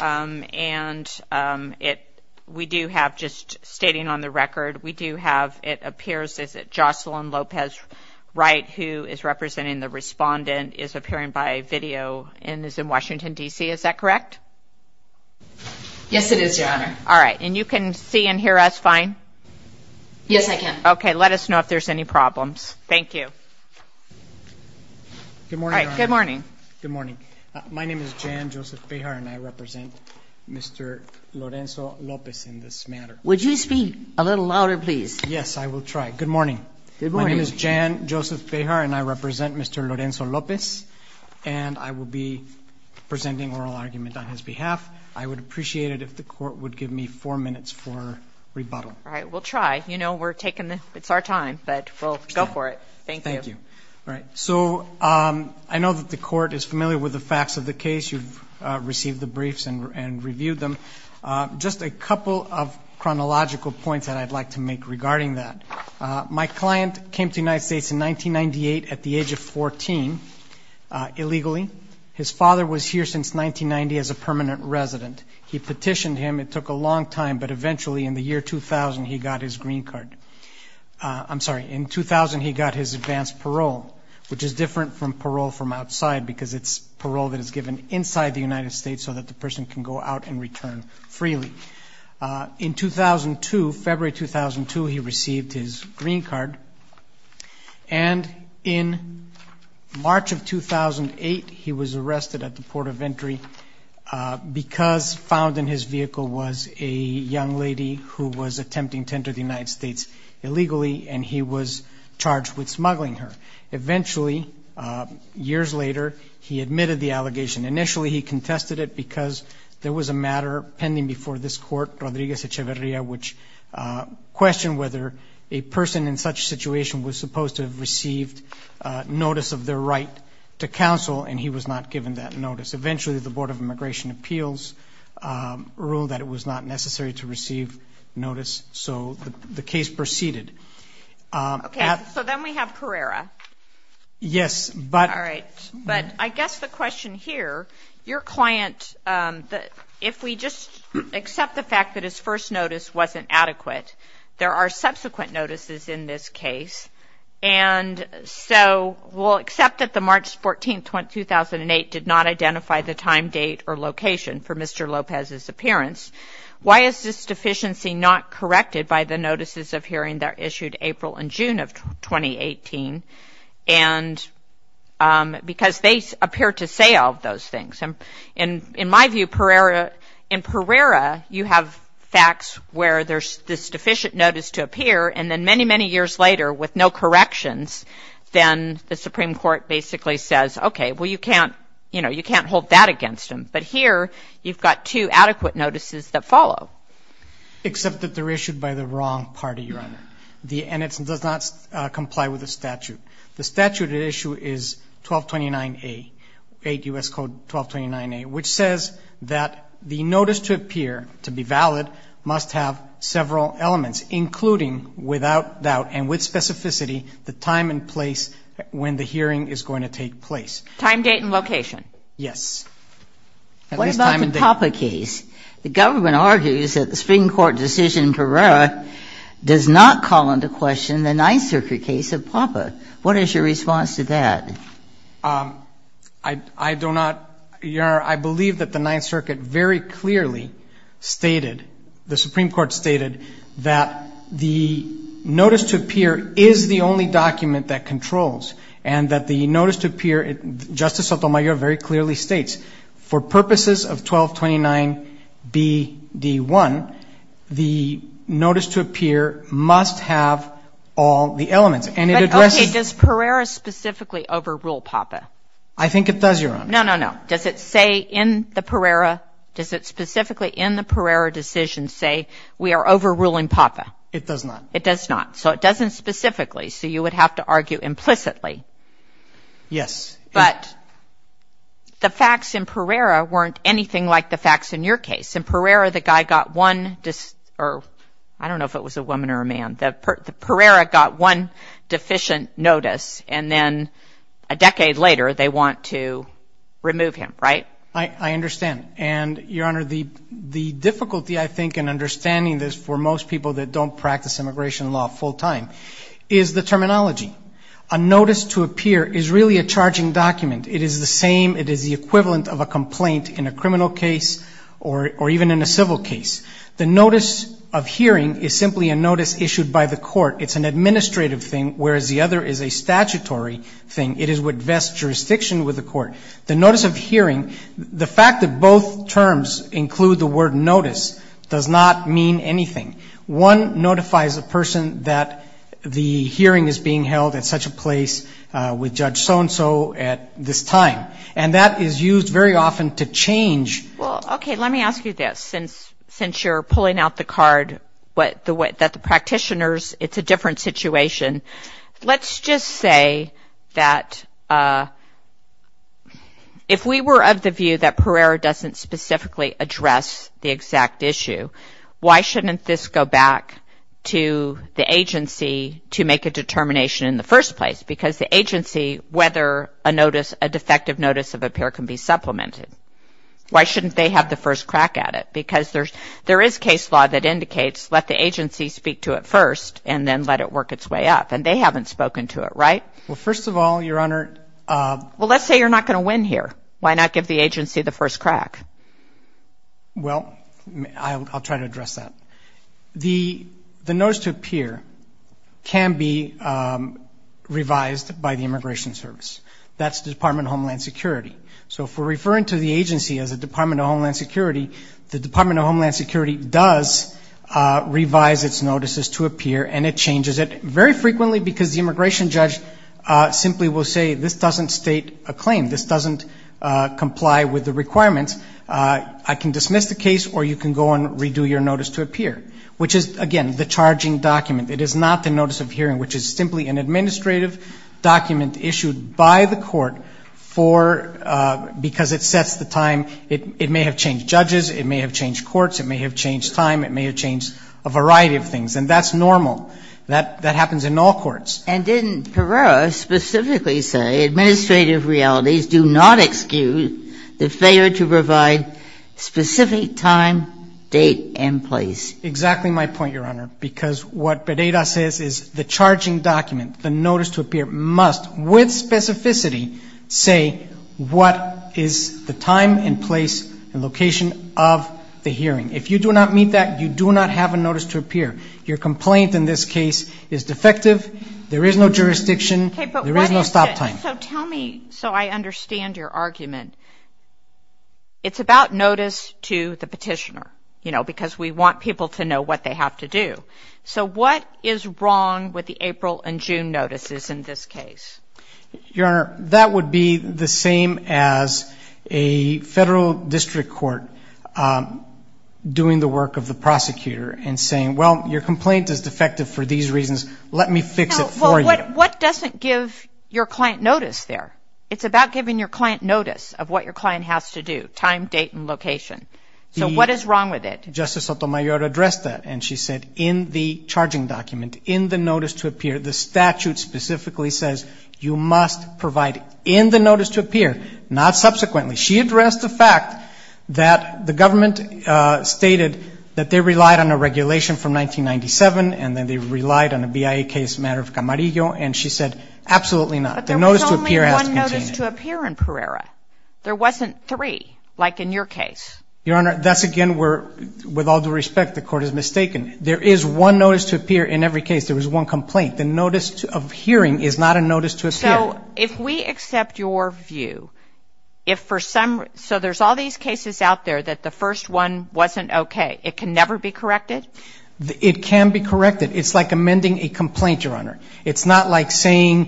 And we do have, just stating on the record, we do have, it appears, is it Jocelyn Lopez-Wright, who is representing the respondent, is appearing by video and is in Washington, D.C.? Is that correct? Yes, it is, Your Honor. All right, and you can see and hear us fine? Yes, I can. Okay, let us know if there's any problems. Thank you. Good morning, Your Honor. All right, good morning. Good morning. My name is Jan Joseph Bejar, and I represent Mr. Lorenzo Lopez in this matter. Would you speak a little louder, please? Yes, I will try. Good morning. Good morning. My name is Jan Joseph Bejar, and I represent Mr. Lorenzo Lopez, and I will be presenting oral argument on his behalf. I would appreciate it if the court would give me four minutes for rebuttal. All right, we'll try. You know, we're taking, it's our time, but we'll go for it. Thank you. Thank you. All right, so I know that the court is familiar with the facts of the case. You've received the briefs and reviewed them. Just a couple of chronological points that I'd like to make regarding that. My client came to the United States in 1998 at the age of 14 illegally. His father was here since 1990 as a permanent resident. He petitioned him. It took a long time, but eventually, in the year 2000, he got his green card. I'm sorry, in 2000, he got his advanced parole, which is different from parole from outside because it's parole that is given inside the United States so that the person can go out and return freely. In 2002, February 2002, he received his green card. And in March of 2008, he was arrested at the port of entry because found in his vehicle was a young lady who was attempting to enter the United States illegally, and he was charged with smuggling her. Eventually, years later, he admitted the allegation. Initially, he contested it because there was a matter pending before this court, Rodriguez Echeverria, which questioned whether a person in such situation was supposed to have received notice of their right to counsel, and he was not given that notice. Eventually, the Board of Immigration Appeals ruled that it was not necessary to receive notice, so the case proceeded. Okay, so then we have Carrera. Yes, but... All right, but I guess the question here, your client, if we just accept the fact that his first notice wasn't adequate, there are subsequent notices in this case, and so we'll accept that the March 14, 2008 did not identify the time, date, or location for Mr. Lopez's appearance. Why is this deficiency not corrected by the notices of hearing that are issued April and June of 2018? And because they appear to say all of those things. In my view, in Carrera, you have facts where there's this deficient notice to appear, and then many, many years later, with no corrections, then the Supreme Court basically says, okay, well, you can't hold that against him, but here, you've got two adequate notices that follow. Except that they're issued by the wrong party, Your Honor. And it does not comply with the statute. The statute at issue is 1229A, 8 U.S. Code 1229A, which says that the notice to appear, to be valid, must have several elements, including, without doubt, and with specificity, the time and place when the hearing is going to take place. Time, date, and location. Yes. At least time and date. What about the Copper case? The government argues that the Supreme Court decision in Carrera does not call into question the Ninth Circuit case of Papa. What is your response to that? I don't know, Your Honor. I believe that the Ninth Circuit very clearly stated, the Supreme Court stated, that the notice to appear is the only document that controls, and that the notice to appear, Justice Sotomayor very clearly states, for purposes of 1229B, D1, the notice to appear must have all the elements. And it addresses. But OK, does Carrera specifically overrule Papa? I think it does, Your Honor. No, no, no. Does it say in the Carrera, does it specifically in the Carrera decision say we are overruling Papa? It does not. It does not. So it doesn't specifically. So you would have to argue implicitly. Yes. But the facts in Carrera weren't anything like the facts in your case. In Carrera, the guy got one, or I don't know if it was a woman or a man, Carrera got one deficient notice. And then a decade later, they want to remove him, right? I understand. And Your Honor, the difficulty, I think, in understanding this for most people that don't practice immigration law full time, is the terminology. A notice to appear is really a charging document. It is the same. It is the equivalent of a complaint in a criminal case or even in a civil case. The notice of hearing is simply a notice issued by the court. It's an administrative thing, whereas the other is a statutory thing. It is what vests jurisdiction with the court. The notice of hearing, the fact that both terms include the word notice does not mean anything. One notifies a person that the hearing is being held at such a place with Judge so-and-so at this time. And that is used very often to change. Well, OK, let me ask you this. Since you're pulling out the card that the practitioners, it's a different situation. Let's just say that if we were of the view that Carrera doesn't specifically address the exact issue, why shouldn't this go back to the agency to make a determination in the first place? Because the agency, whether a defective notice of appear can be supplemented, why shouldn't they have the first crack at it? Because there is case law that indicates, let the agency speak to it first, and then let it work its way up. And they haven't spoken to it, right? Well, first of all, Your Honor, Well, let's say you're not going to win here. Why not give the agency the first crack? Well, I'll try to address that. The notice to appear can be revised by the Immigration Service. That's the Department of Homeland Security. So if we're referring to the agency as the Department of Homeland Security, the Department of Homeland Security does revise its notices to appear, and it changes it very frequently because the immigration judge simply will say, this doesn't state a claim. This doesn't comply with the requirements. I can dismiss the case, or you can go and redo your notice to appear, which is, again, the charging document. It is not the notice of hearing, which is simply an administrative document issued by the court because it sets the time. It may have changed judges. It may have changed courts. It may have changed time. It may have changed a variety of things. And that's normal. That happens in all courts. And didn't Perot specifically say, administrative realities do not excuse the failure to provide specific time, date, and place? Exactly my point, Your Honor, because what Perot says is the charging document, the notice to appear, must, with specificity, say what is the time and place and location of the hearing. If you do not meet that, you do not have a notice to appear. Your complaint in this case is defective. There is no jurisdiction. There is no stop time. So I understand your argument. It's about notice to the petitioner, because we want people to know what they have to do. So what is wrong with the April and June notices in this case? That would be the same as a federal district court doing the work of the prosecutor and saying, well, your complaint is defective for these reasons. Let me fix it for you. But what doesn't give your client notice there? It's about giving your client notice of what your client has to do, time, date, and location. So what is wrong with it? Justice Sotomayor addressed that, and she said in the charging document, in the notice to appear, the statute specifically says you must provide in the notice to appear, not subsequently. She addressed the fact that the government stated that they relied on a regulation from 1997, and then they relied on a BIA case matter of Camarillo, and she said, absolutely not. The notice to appear has to contain it. But there was only one notice to appear in Pereira. There wasn't three, like in your case. Your Honor, that's again where, with all due respect, the court is mistaken. There is one notice to appear in every case. There was one complaint. The notice of hearing is not a notice to appear. So if we accept your view, if for some reason, so there's all these cases out there that the first one wasn't OK. It can never be corrected? It can be corrected. It's like amending a complaint, Your Honor. It's not like saying,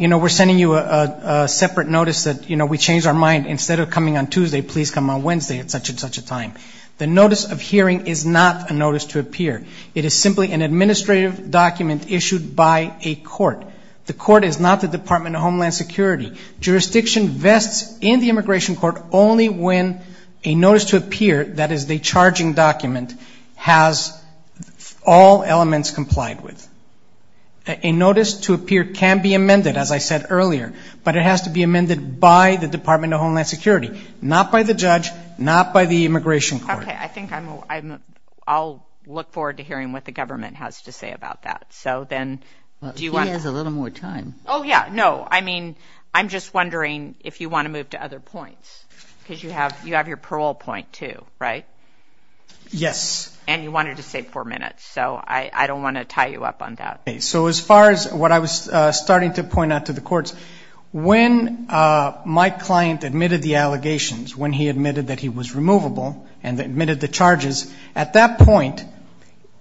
you know, we're sending you a separate notice that we changed our mind. Instead of coming on Tuesday, please come on Wednesday, at such and such a time. The notice of hearing is not a notice to appear. It is simply an administrative document issued by a court. The court is not the Department of Homeland Security. Jurisdiction vests in the immigration court only when a notice to appear, that is the charging document, has all elements complied with. A notice to appear can be amended, as I said earlier. But it has to be amended by the Department of Homeland Security, not by the judge, not by the immigration court. OK, I think I'm, I'll look forward to hearing what the government has to say about that. So then, do you want to? He has a little more time. Oh, yeah, no. I mean, I'm just wondering if you want to move to other points. Because you have your parole point, too, right? Yes. And you wanted to save four minutes. So I don't want to tie you up on that. So as far as what I was starting to point out to the courts, when my client admitted the allegations, when he admitted that he was removable and admitted the charges, at that point,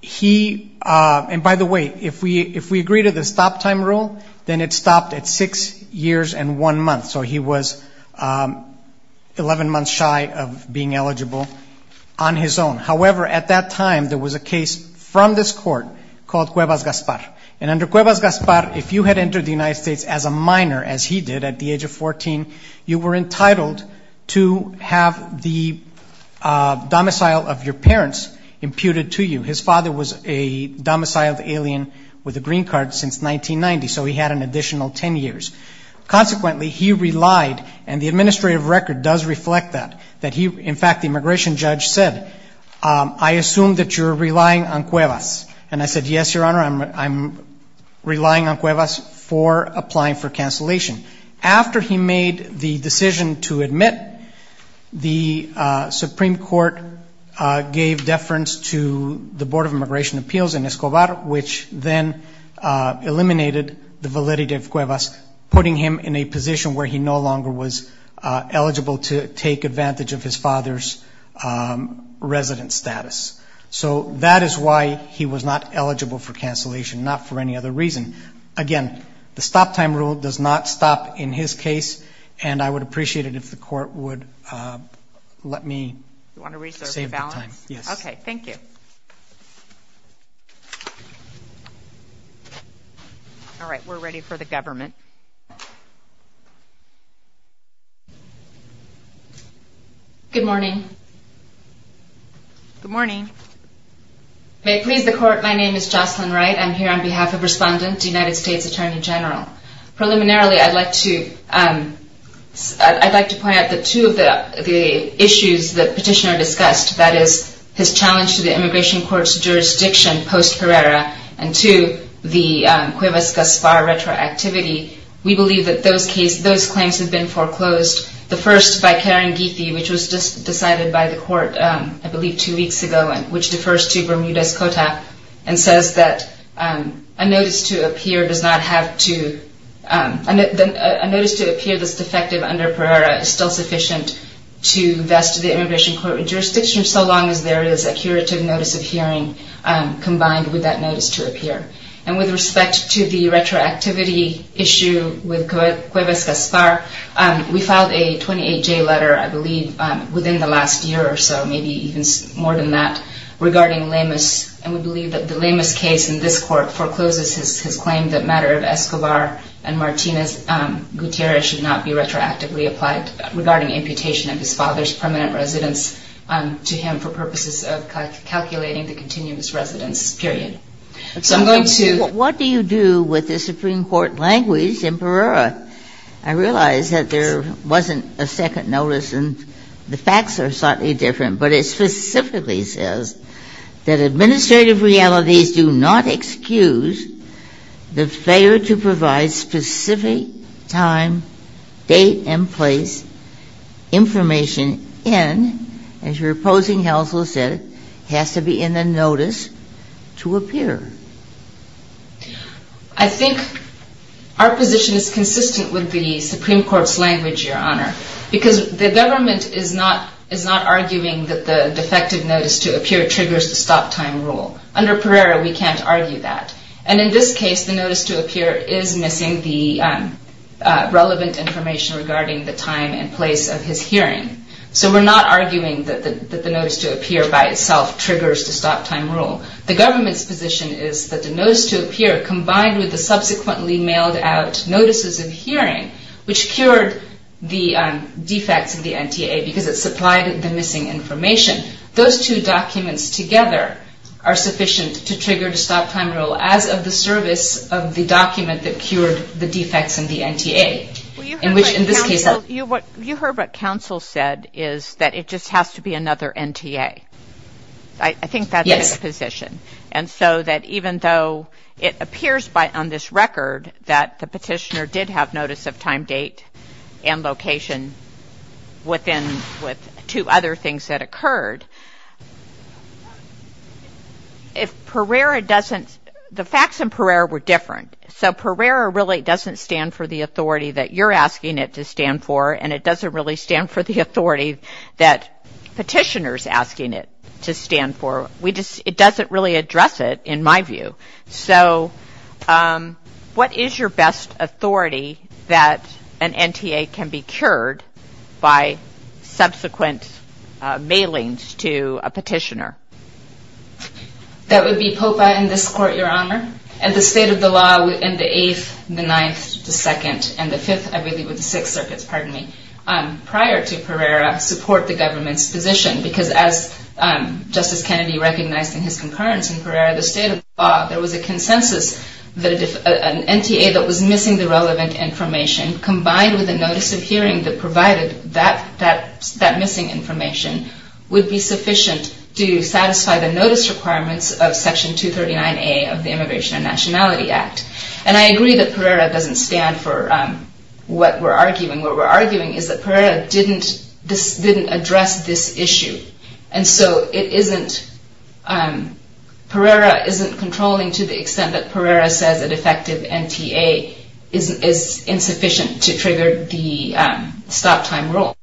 he, and by the way, if we agree to the stop time rule, then it stopped at six years and one month. So he was 11 months shy of being eligible on his own. However, at that time, there was a case from this court called Cuevas-Gaspar. And under Cuevas-Gaspar, if you had entered the United States as a minor, as he did at the age of 14, you were entitled to have the domicile of your parents imputed to you. His father was a domiciled alien with a green card since 1990. So he had an additional 10 years. Consequently, he relied, and the administrative record does reflect that, that he, in fact, the immigration judge said, I assume that you're relying on Cuevas. And I said, yes, Your Honor, I'm relying on Cuevas for applying for cancellation. After he made the decision to admit, the Supreme Court gave deference to the Board of Immigration Appeals in Escobar, which then eliminated the validity of Cuevas, putting him in a position where he no longer was eligible to take advantage of his father's resident status. So that is why he was not eligible for cancellation, not for any other reason. Again, the stop time rule does not stop in his case. And I would appreciate it if the court would let me save the time. Yes. OK. Thank you. All right, we're ready for the government. Good morning. Good morning. May it please the court, my name is Jocelyn Wright. I'm here on behalf of Respondent, United States Attorney General. Preliminarily, I'd like to point out that two of the issues the petitioner discussed, that is his challenge to the immigration court's jurisdiction post-Perera, and to the Cuevas-Gazpar retroactivity, we believe that those claims have been foreclosed. The first, by Karen Geethy, which was just decided by the court, I believe, two weeks ago, which defers to Bermudez-Cota, and says that a notice to appear does not have to, a notice to appear that's defective under Perera is still sufficient to vest the immigration court with jurisdiction, so long as there is a curative notice of hearing combined with that notice to appear. And with respect to the retroactivity issue with Cuevas-Gazpar, we filed a 28-J letter, I believe, within the last year or so, maybe even more than that, regarding Lemus. And we believe that the Lemus case in this court forecloses his claim that matter of Escobar and Martinez Gutierrez should not be retroactively applied regarding amputation of his father's permanent residence to him for purposes of calculating the continuous residence, period. So I'm going to. What do you do with the Supreme Court language in Perera? I realize that there wasn't a second notice, and the facts are slightly different. But it specifically says that administrative realities do not excuse the failure to provide specific time, date, and place information in, as your opposing counsel said, has to be in the notice to appear. I think our position is consistent with the Supreme Court's language, Your Honor, because the government is not arguing that the defective notice to appear triggers the stop time rule. Under Perera, we can't argue that. And in this case, the notice to appear is missing the relevant information regarding the time and place of his hearing. So we're not arguing that the notice to appear by itself triggers the stop time rule. The government's position is that the notice to appear, combined with the subsequently mailed out notices of hearing, which cured the defects of the NTA those two documents together are sufficient to trigger the stop time rule, as of the service of the document that cured the defects in the NTA, in which, in this case, the- You heard what counsel said, is that it just has to be another NTA. I think that's his position. And so that even though it appears on this record that the petitioner did have notice of time, date, and location with two other things that occurred, if Perera doesn't- The facts in Perera were different. So Perera really doesn't stand for the authority that you're asking it to stand for. And it doesn't really stand for the authority that petitioner's asking it to stand for. It doesn't really address it, in my view. So what is your best authority that an NTA can be cured by subsequent mailings to a petitioner? That would be POPA in this court, Your Honor. And the state of the law in the Eighth, the Ninth, the Second, and the Fifth, I believe with the Sixth Circuits, pardon me, prior to Perera, support the government's position. Because as Justice Kennedy recognized in his concurrence in Perera, the state of the law, there was a consensus that an NTA that was missing the relevant information combined with a notice of hearing that provided that missing information would be sufficient to satisfy the notice requirements of Section 239A of the Immigration and Nationality Act. And I agree that Perera doesn't stand for what we're arguing. What we're arguing is that Perera didn't address this issue. And so it isn't- Perera isn't controlling to the extent that Perera says a defective NTA is insufficient to trigger the stop time rule.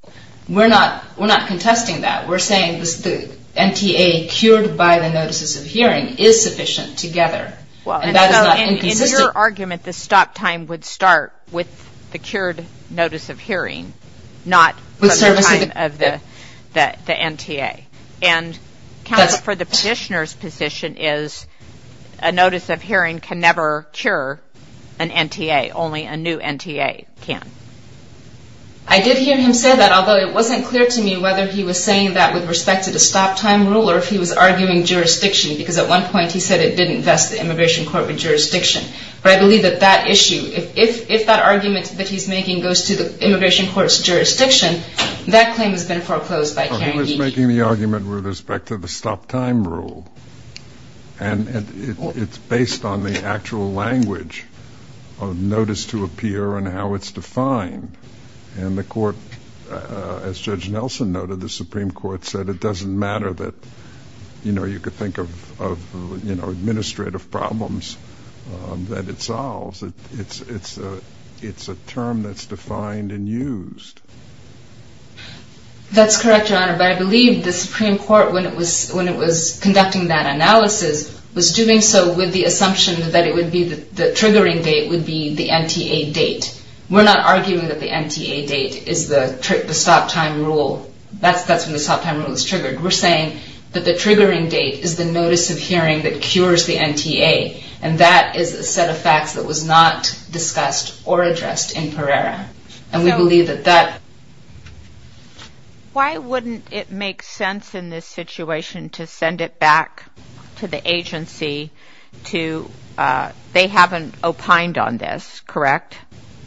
We're not contesting that. We're saying the NTA cured by the notices of hearing is sufficient together. And that is not inconsistent. In your argument, the stop time would start with the cured notice of hearing, not the time of the NTA. And counsel, for the petitioner's position is a notice of hearing can never cure an NTA. Only a new NTA can. I did hear him say that, although it wasn't clear to me whether he was saying that with respect to the stop time rule or if he was arguing jurisdiction. Because at one point, he said it didn't vest the immigration court with jurisdiction. But I believe that that issue, if that argument that he's making goes to the immigration court's jurisdiction, that claim has been foreclosed by Karen Deac. I'm making the argument with respect to the stop time rule. And it's based on the actual language of notice to appear and how it's defined. And the court, as Judge Nelson noted, the Supreme Court said it doesn't matter that you could think of administrative problems that it solves. It's a term that's defined and used. That's correct, Your Honor. But I believe the Supreme Court, when it was conducting that analysis, was doing so with the assumption that the triggering date would be the NTA date. We're not arguing that the NTA date is the stop time rule. That's when the stop time rule was triggered. We're saying that the triggering date is the notice of hearing that cures the NTA. And that is a set of facts that was not discussed or addressed in Pereira. And we believe that that. Why wouldn't it make sense in this situation to send it back to the agency to, they haven't opined on this, correct?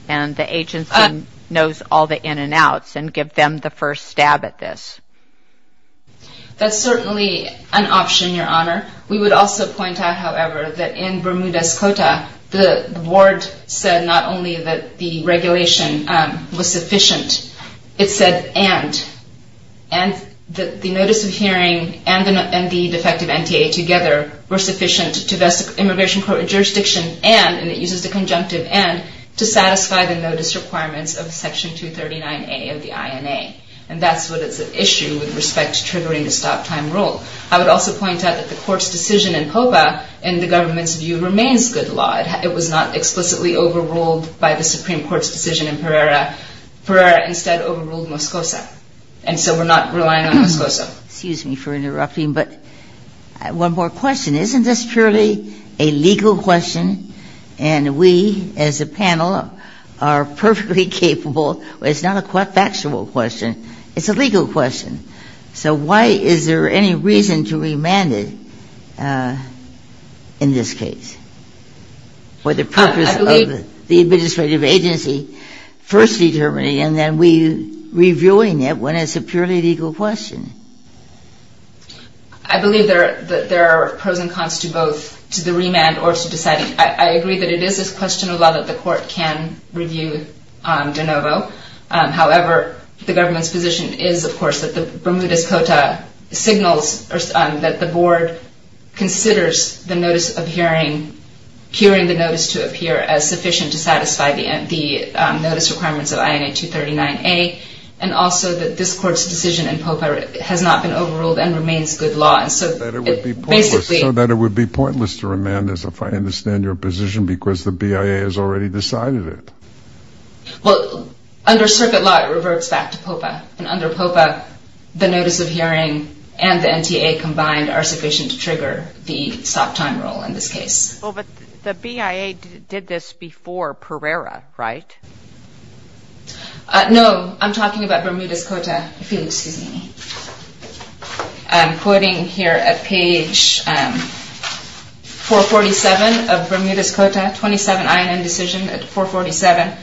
And the agency knows all the in and outs and give them the first stab at this. That's certainly an option, Your Honor. We would also point out, however, that in Bermuda's Cota, the board said not only that the regulation was sufficient, it said, and the notice of hearing and the defective NTA together were sufficient to vest immigration court jurisdiction and, and it uses the conjunctive and, to satisfy the notice requirements of Section 239A of the INA. And that's what it's an issue with respect to triggering the stop time rule. I would also point out that the court's decision in Copa, in the government's view, remains good law. It was not explicitly overruled by the Supreme Court's decision in Pereira. Pereira instead overruled Moscosa. And so we're not relying on Moscosa. Excuse me for interrupting, but one more question. Isn't this purely a legal question? And we, as a panel, are perfectly capable, it's not a factual question, it's a legal question. So why, is there any reason to remand it in this case? Or the purpose of the administrative agency first determining, and then we reviewing it when it's a purely legal question? I believe there are pros and cons to both, to the remand or to deciding. I agree that it is a question of law that the court can review de novo. However, the government's position is, of course, that the Bermudez Cota signals that the board considers the notice of hearing, hearing the notice to appear as sufficient to satisfy the notice requirements of INA 239A. And also that this court's decision in Popa has not been overruled and remains good law. And so, basically- So that it would be pointless to remand this if I understand your position because the BIA has already decided it. Well, under circuit law, it reverts back to Popa. And under Popa, the notice of hearing and the NTA combined are sufficient to trigger the stop time rule in this case. The BIA did this before Pereira, right? No, I'm talking about Bermudez Cota, if you'll excuse me. I'm quoting here at page 447 of Bermudez Cota, 27 INN decision at 447.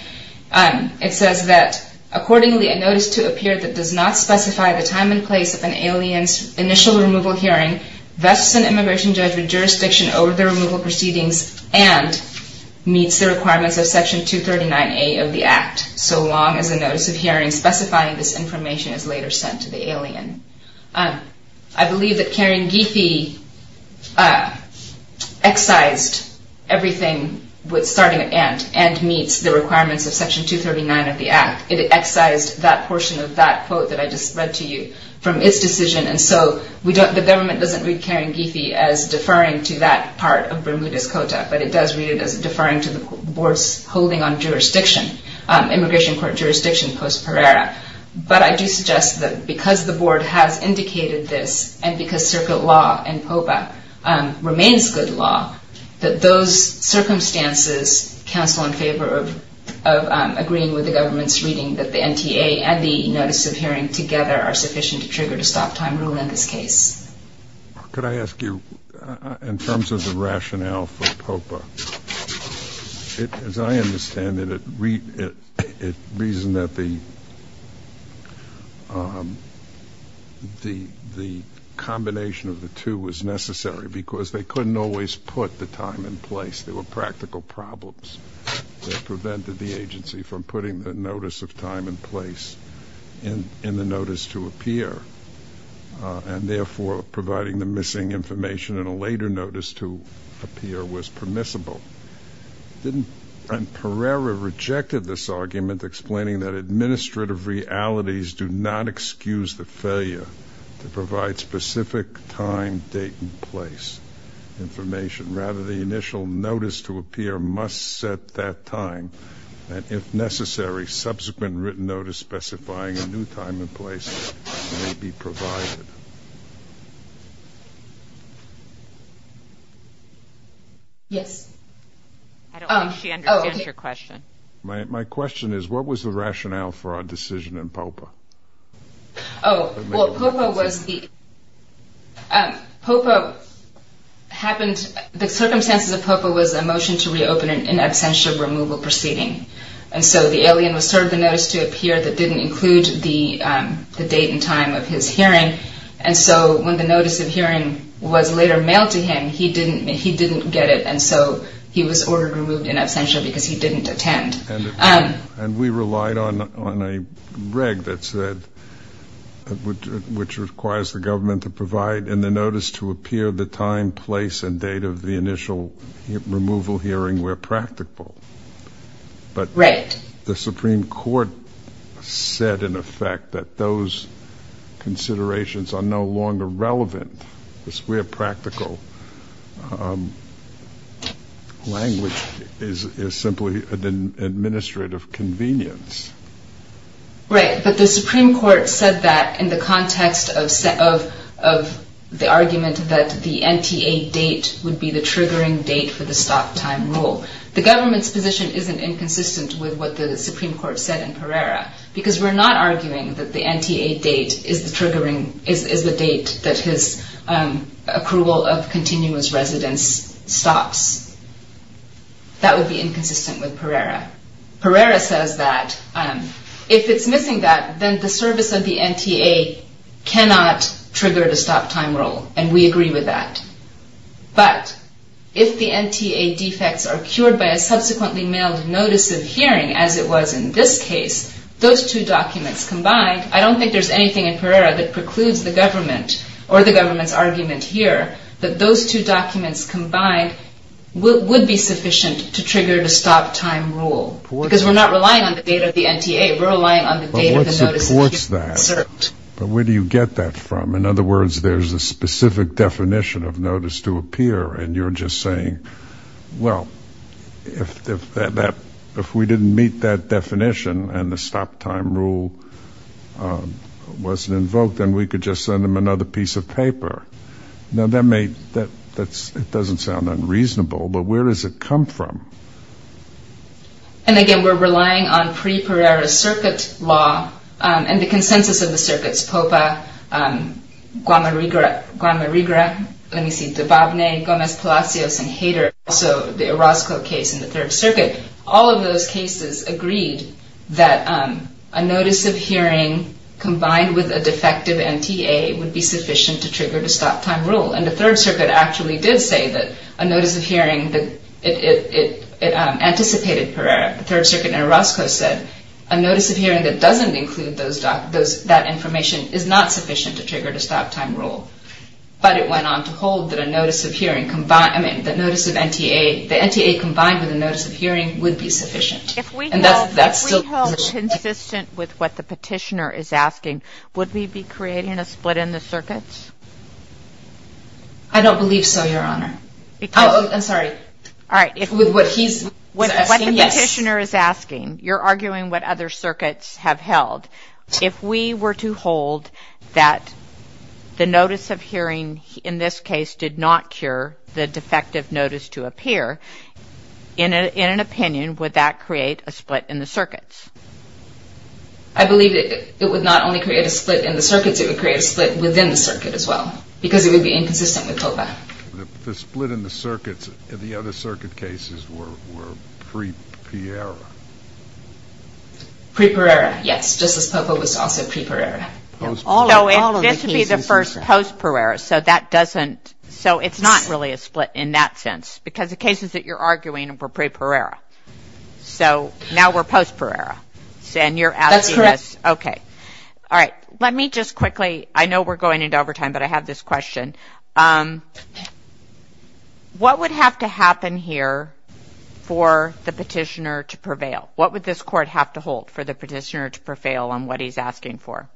It says that, accordingly, a notice to appear that does not specify the time and place of an alien's initial removal hearing vests an immigration judge with jurisdiction over the removal proceedings and meets the requirements of Section 239A of the Act. So long as a notice of hearing specifying this information is later sent to the alien. I believe that Karen Giffey excised everything with starting at and, and meets the requirements of Section 239 of the Act. It excised that portion of that quote that I just read to you from its decision. And so, the government doesn't read Karen Giffey as deferring to that part of Bermudez Cota, but it does read it as deferring to the board's holding on jurisdiction, immigration court jurisdiction post Pereira. But I do suggest that because the board has indicated this and because circuit law and POPA remains good law, that those circumstances counsel in favor of agreeing with the government's reading that the NTA and the notice of hearing together are sufficient to trigger the stop time rule in this case. Could I ask you, in terms of the rationale for POPA, as I understand it, it reasoned that the, the combination of the two was necessary because they couldn't always put the time in place. There were practical problems that prevented the agency from putting the notice of time and place in the notice to appear. And therefore, providing the missing information in a later notice to appear was permissible. Didn't, and Pereira rejected this argument explaining that administrative realities do not excuse the failure to provide specific time, date, and place information. Rather, the initial notice to appear must set that time. And if necessary, subsequent written notice specifying a new time and place may be provided. Yes. I don't think she understands your question. My question is, what was the rationale for our decision in POPA? Oh, well, POPA was the, POPA happened, the circumstances of POPA was a motion to reopen an in absentia removal proceeding. And so the alien was served the notice to appear that didn't include the date and time of his hearing. And so when the notice of hearing was later mailed to him, he didn't get it. And so he was ordered removed in absentia because he didn't attend. And we relied on a reg that said, which requires the government to provide in the notice to appear the time, place, and date of the initial removal hearing where practical. But. Right. The Supreme Court said in effect that those considerations are no longer relevant. This we're practical. Language is simply an administrative convenience. Right, but the Supreme Court said that in the context of the argument that the NTA date would be the triggering date for the stop time rule. The government's position isn't inconsistent with what the Supreme Court said in Pereira because we're not arguing that the NTA date is the triggering, is the date that his approval of continuous residence stops. That would be inconsistent with Pereira. Pereira says that if it's missing that, then the service of the NTA cannot trigger the stop time rule. And we agree with that. But if the NTA defects are cured by a subsequently mailed notice of hearing as it was in this case, those two documents combined, I don't think there's anything in Pereira that precludes the government or the government's argument here that those two documents combined would be sufficient to trigger the stop time rule. Because we're not relying on the date of the NTA, we're relying on the date of the notice of hearing. But where do you get that from? In other words, there's a specific definition of notice to appear and you're just saying, well, if we didn't meet that definition and the stop time rule wasn't invoked, then we could just send them another piece of paper. Now that may, that's, it doesn't sound unreasonable, but where does it come from? And again, we're relying on pre-Pereira circuit law and the consensus of the circuits, POPA, Guamariga, let me see, Dubovnay, Gomez-Palacios, and Hader, also the Orozco case in the Third Circuit. All of those cases agreed that a notice of hearing combined with a defective NTA would be sufficient to trigger the stop time rule. And the Third Circuit actually did say that a notice of hearing, it anticipated Pereira. The Third Circuit in Orozco said, a notice of hearing that doesn't include that information is not sufficient to trigger the stop time rule. But it went on to hold that a notice of hearing combined, I mean, the notice of NTA, the NTA combined with a notice of hearing would be sufficient. And that's still- If we held consistent with what the petitioner is asking, would we be creating a split in the circuits? I don't believe so, Your Honor. Because- Oh, I'm sorry. All right, if- With what he's asking, yes. With what the petitioner is asking, you're arguing what other circuits have held. If we were to hold that the notice of hearing in this case did not cure the defective notice to appear, in an opinion, would that create a split in the circuits? I believe that it would not only create a split in the circuits, it would create a split within the circuit as well. Because it would be inconsistent with TOPA. The split in the circuits in the other circuit cases were pre-Pereira. Pre-Pereira, yes. Just as TOPA was also pre-Pereira. All of the cases- So this would be the first post-Pereira. So that doesn't- So it's not really a split in that sense. Because the cases that you're arguing were pre-Pereira. So now we're post-Pereira. And you're asking us- That's correct. Okay. All right, let me just quickly, I know we're going into overtime, but I have this question. What would have to happen here for the petitioner to prevail? What would this court have to hold for the petitioner to prevail on what he's asking for?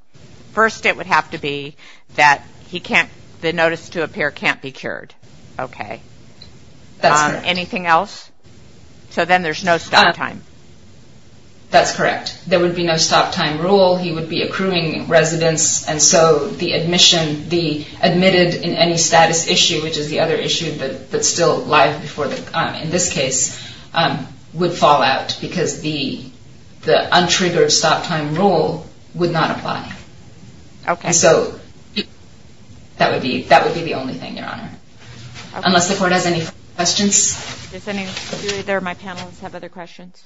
First, it would have to be that he can't, the notice to appear can't be cured. Okay. That's correct. Anything else? So then there's no stop time. That's correct. There would be no stop time rule. He would be accruing residence. And so the admission, the admitted in any status issue, which is the other issue that's still live before the, in this case, would fall out because the untriggered stop time rule would not apply. Okay. So that would be the only thing, Your Honor. Unless the court has any questions. Is there any, do either of my panelists have other questions?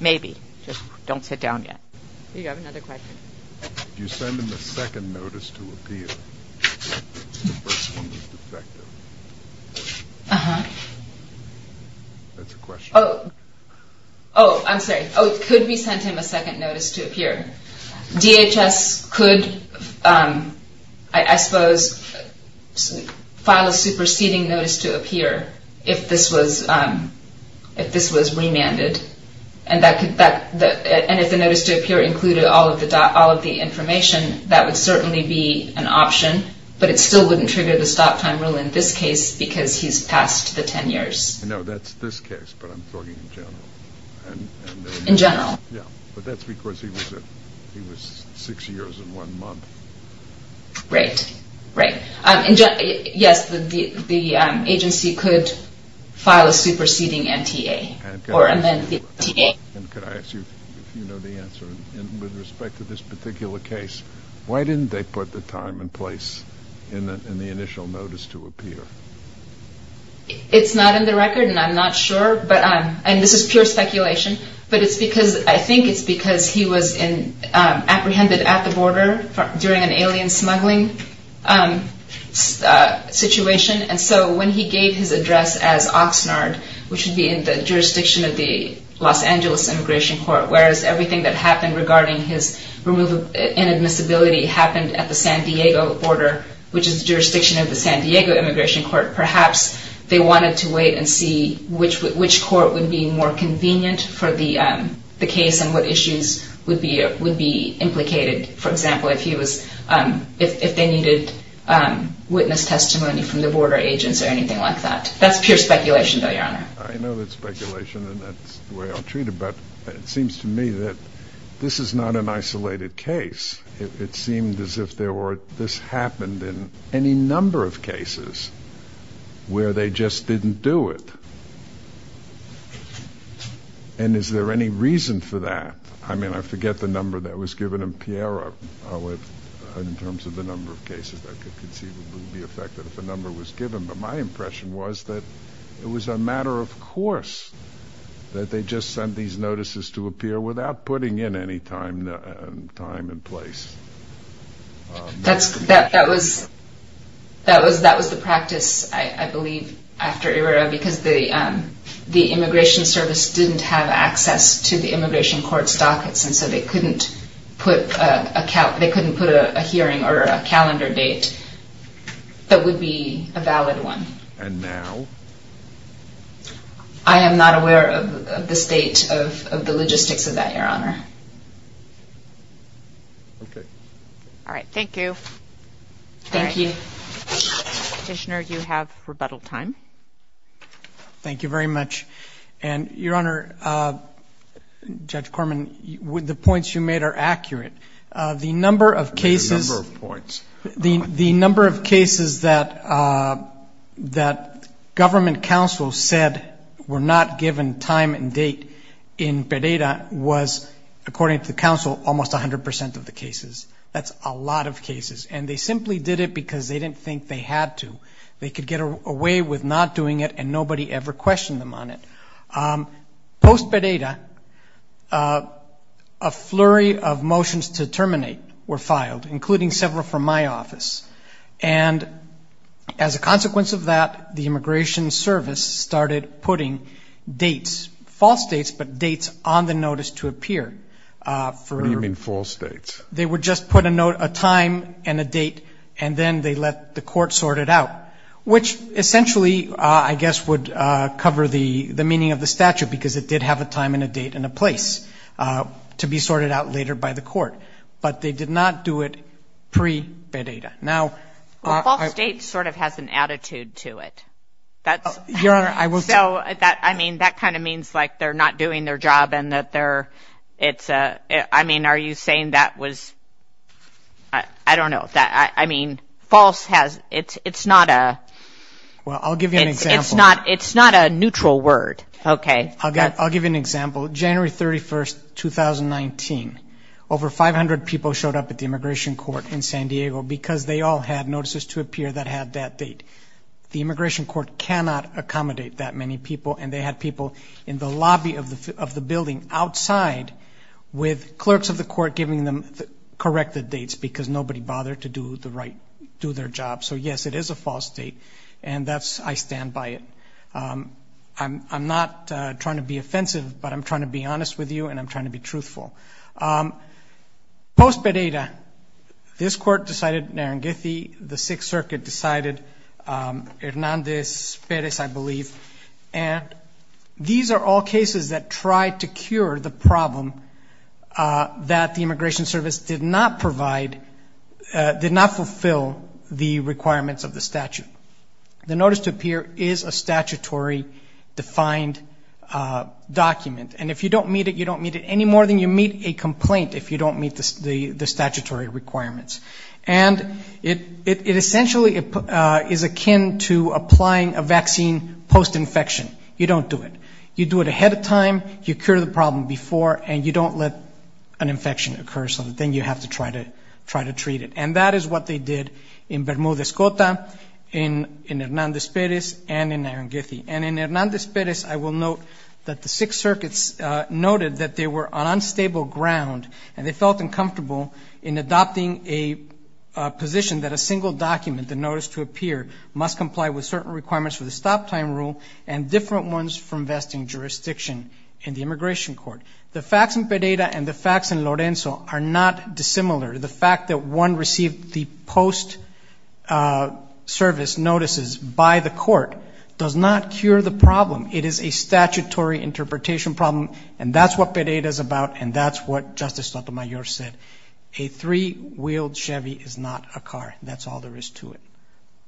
Maybe, just don't sit down yet. You have another question. You send him a second notice to appear. It's the first one that's defective. Uh-huh. That's a question. Oh, I'm sorry. Oh, it could be sent him a second notice to appear. DHS could, I suppose, file a superseding notice to appear if this was remanded. And if the notice to appear included all of the information, that would certainly be an option, but it still wouldn't trigger the stop time rule in this case because he's passed the 10 years. No, that's this case, but I'm talking in general. In general? Yeah, but that's because he was six years and one month. Great, great. Yes, the agency could file a superseding MTA or amend the MTA. And could I ask you, if you know the answer, with respect to this particular case, why didn't they put the time and place in the initial notice to appear? It's not in the record, and I'm not sure, and this is pure speculation, but I think it's because he was apprehended at the border during an alien smuggling situation. And so when he gave his address as Oxnard, which would be in the jurisdiction of the Los Angeles Immigration Court, whereas everything that happened regarding his inadmissibility happened at the San Diego border, which is the jurisdiction of the San Diego Immigration Court, perhaps they wanted to wait and see which court would be more convenient for the case and what issues would be implicated, for example, if they needed witness testimony from the border agents or anything like that. That's pure speculation, though, Your Honor. I know that's speculation and that's the way I'll treat it, but it seems to me that this is not an isolated case. It seemed as if this happened in any number of cases where they just didn't do it. And is there any reason for that? I mean, I forget the number that was given in Piera in terms of the number of cases that could conceivably be affected if a number was given, but my impression was that it was a matter of course that they just sent these notices to appear without putting in any time and place. That was the practice, I believe, after Irira, because the Immigration Service didn't have access to the Immigration Court's dockets and so they couldn't put a hearing or a calendar date that would be a valid one. And now? I am not aware of the state of the logistics of that, Your Honor. Okay. All right, thank you. Thank you. Petitioner, you have rebuttal time. Thank you very much. And Your Honor, Judge Corman, the points you made are accurate. The number of cases- The number of points. The number of cases that got a hearing that the government counsel said were not given time and date in Pereira was, according to the counsel, almost 100% of the cases. That's a lot of cases. And they simply did it because they didn't think they had to. They could get away with not doing it and nobody ever questioned them on it. Post-Pereira, a flurry of motions to terminate were filed, including several from my office. And as a consequence of that, the Immigration Service started putting dates, false dates, but dates on the notice to appear. For- What do you mean false dates? They would just put a time and a date and then they let the court sort it out, which essentially, I guess, would cover the meaning of the statute because it did have a time and a date and a place to be sorted out later by the court. But they did not do it pre-Pereira. Now- The date sort of has an attitude to it. That's- Your Honor, I will- So, I mean, that kind of means like they're not doing their job and that they're, it's a, I mean, are you saying that was, I don't know, that, I mean, false has, it's not a- Well, I'll give you an example. It's not a neutral word. Okay. I'll give you an example. January 31st, 2019, over 500 people showed up at the immigration court in San Diego because they all had notices to appear that had that date. The immigration court cannot accommodate that many people and they had people in the lobby of the building outside with clerks of the court giving them the corrected dates because nobody bothered to do the right, do their job. So, yes, it is a false date and that's, I stand by it. I'm not trying to be offensive, but I'm trying to be honest with you and I'm trying to be truthful. Post-Pereira, this court decided, Narangethi, the Sixth Circuit decided, Hernández Pérez, I believe, and these are all cases that tried to cure the problem that the Immigration Service did not provide, did not fulfill the requirements of the statute. The notice to appear is a statutory defined document and if you don't meet it, you don't meet it any more than you meet it and you don't meet a complaint if you don't meet the statutory requirements. And it essentially is akin to applying a vaccine post-infection. You don't do it. You do it ahead of time, you cure the problem before, and you don't let an infection occur so then you have to try to treat it. And that is what they did in Bermuda, Escota, in Hernández Pérez, and in Narangethi. And in Hernández Pérez, I will note that the Sixth Circuit noted that they were on unstable ground and they felt uncomfortable in adopting a position that a single document, the notice to appear, must comply with certain requirements for the stop time rule and different ones for investing jurisdiction in the immigration court. The facts in Pareda and the facts in Lorenzo are not dissimilar. The fact that one received the post-service notices by the court does not cure the problem. It is a statutory interpretation problem, and that's what Pareda is about, and that's what Justice Sotomayor said. A three-wheeled Chevy is not a car. That's all there is to it.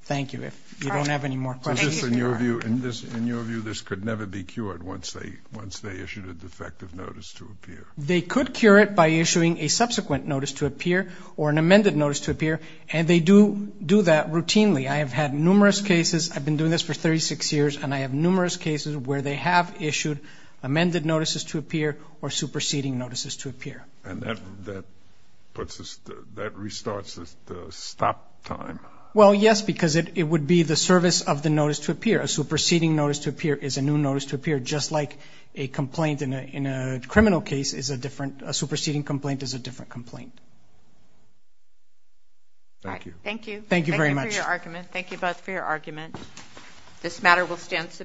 Thank you. If you don't have any more questions. Thank you, Your Honor. In your view, this could never be cured once they issued a defective notice to appear? They could cure it by issuing a subsequent notice to appear or an amended notice to appear, and they do do that routinely. I have had numerous cases, I've been doing this for 36 years, and I have numerous cases where they have issued amended notices to appear or superseding notices to appear. And that puts us, that restarts the stop time? Well, yes, because it would be the service of the notice to appear. A superseding notice to appear is a new notice to appear, just like a complaint in a criminal case is a different, a superseding complaint is a different complaint. Thank you. Thank you. Thank you very much. Thank you for your argument. Thank you both for your argument. This matter will stand.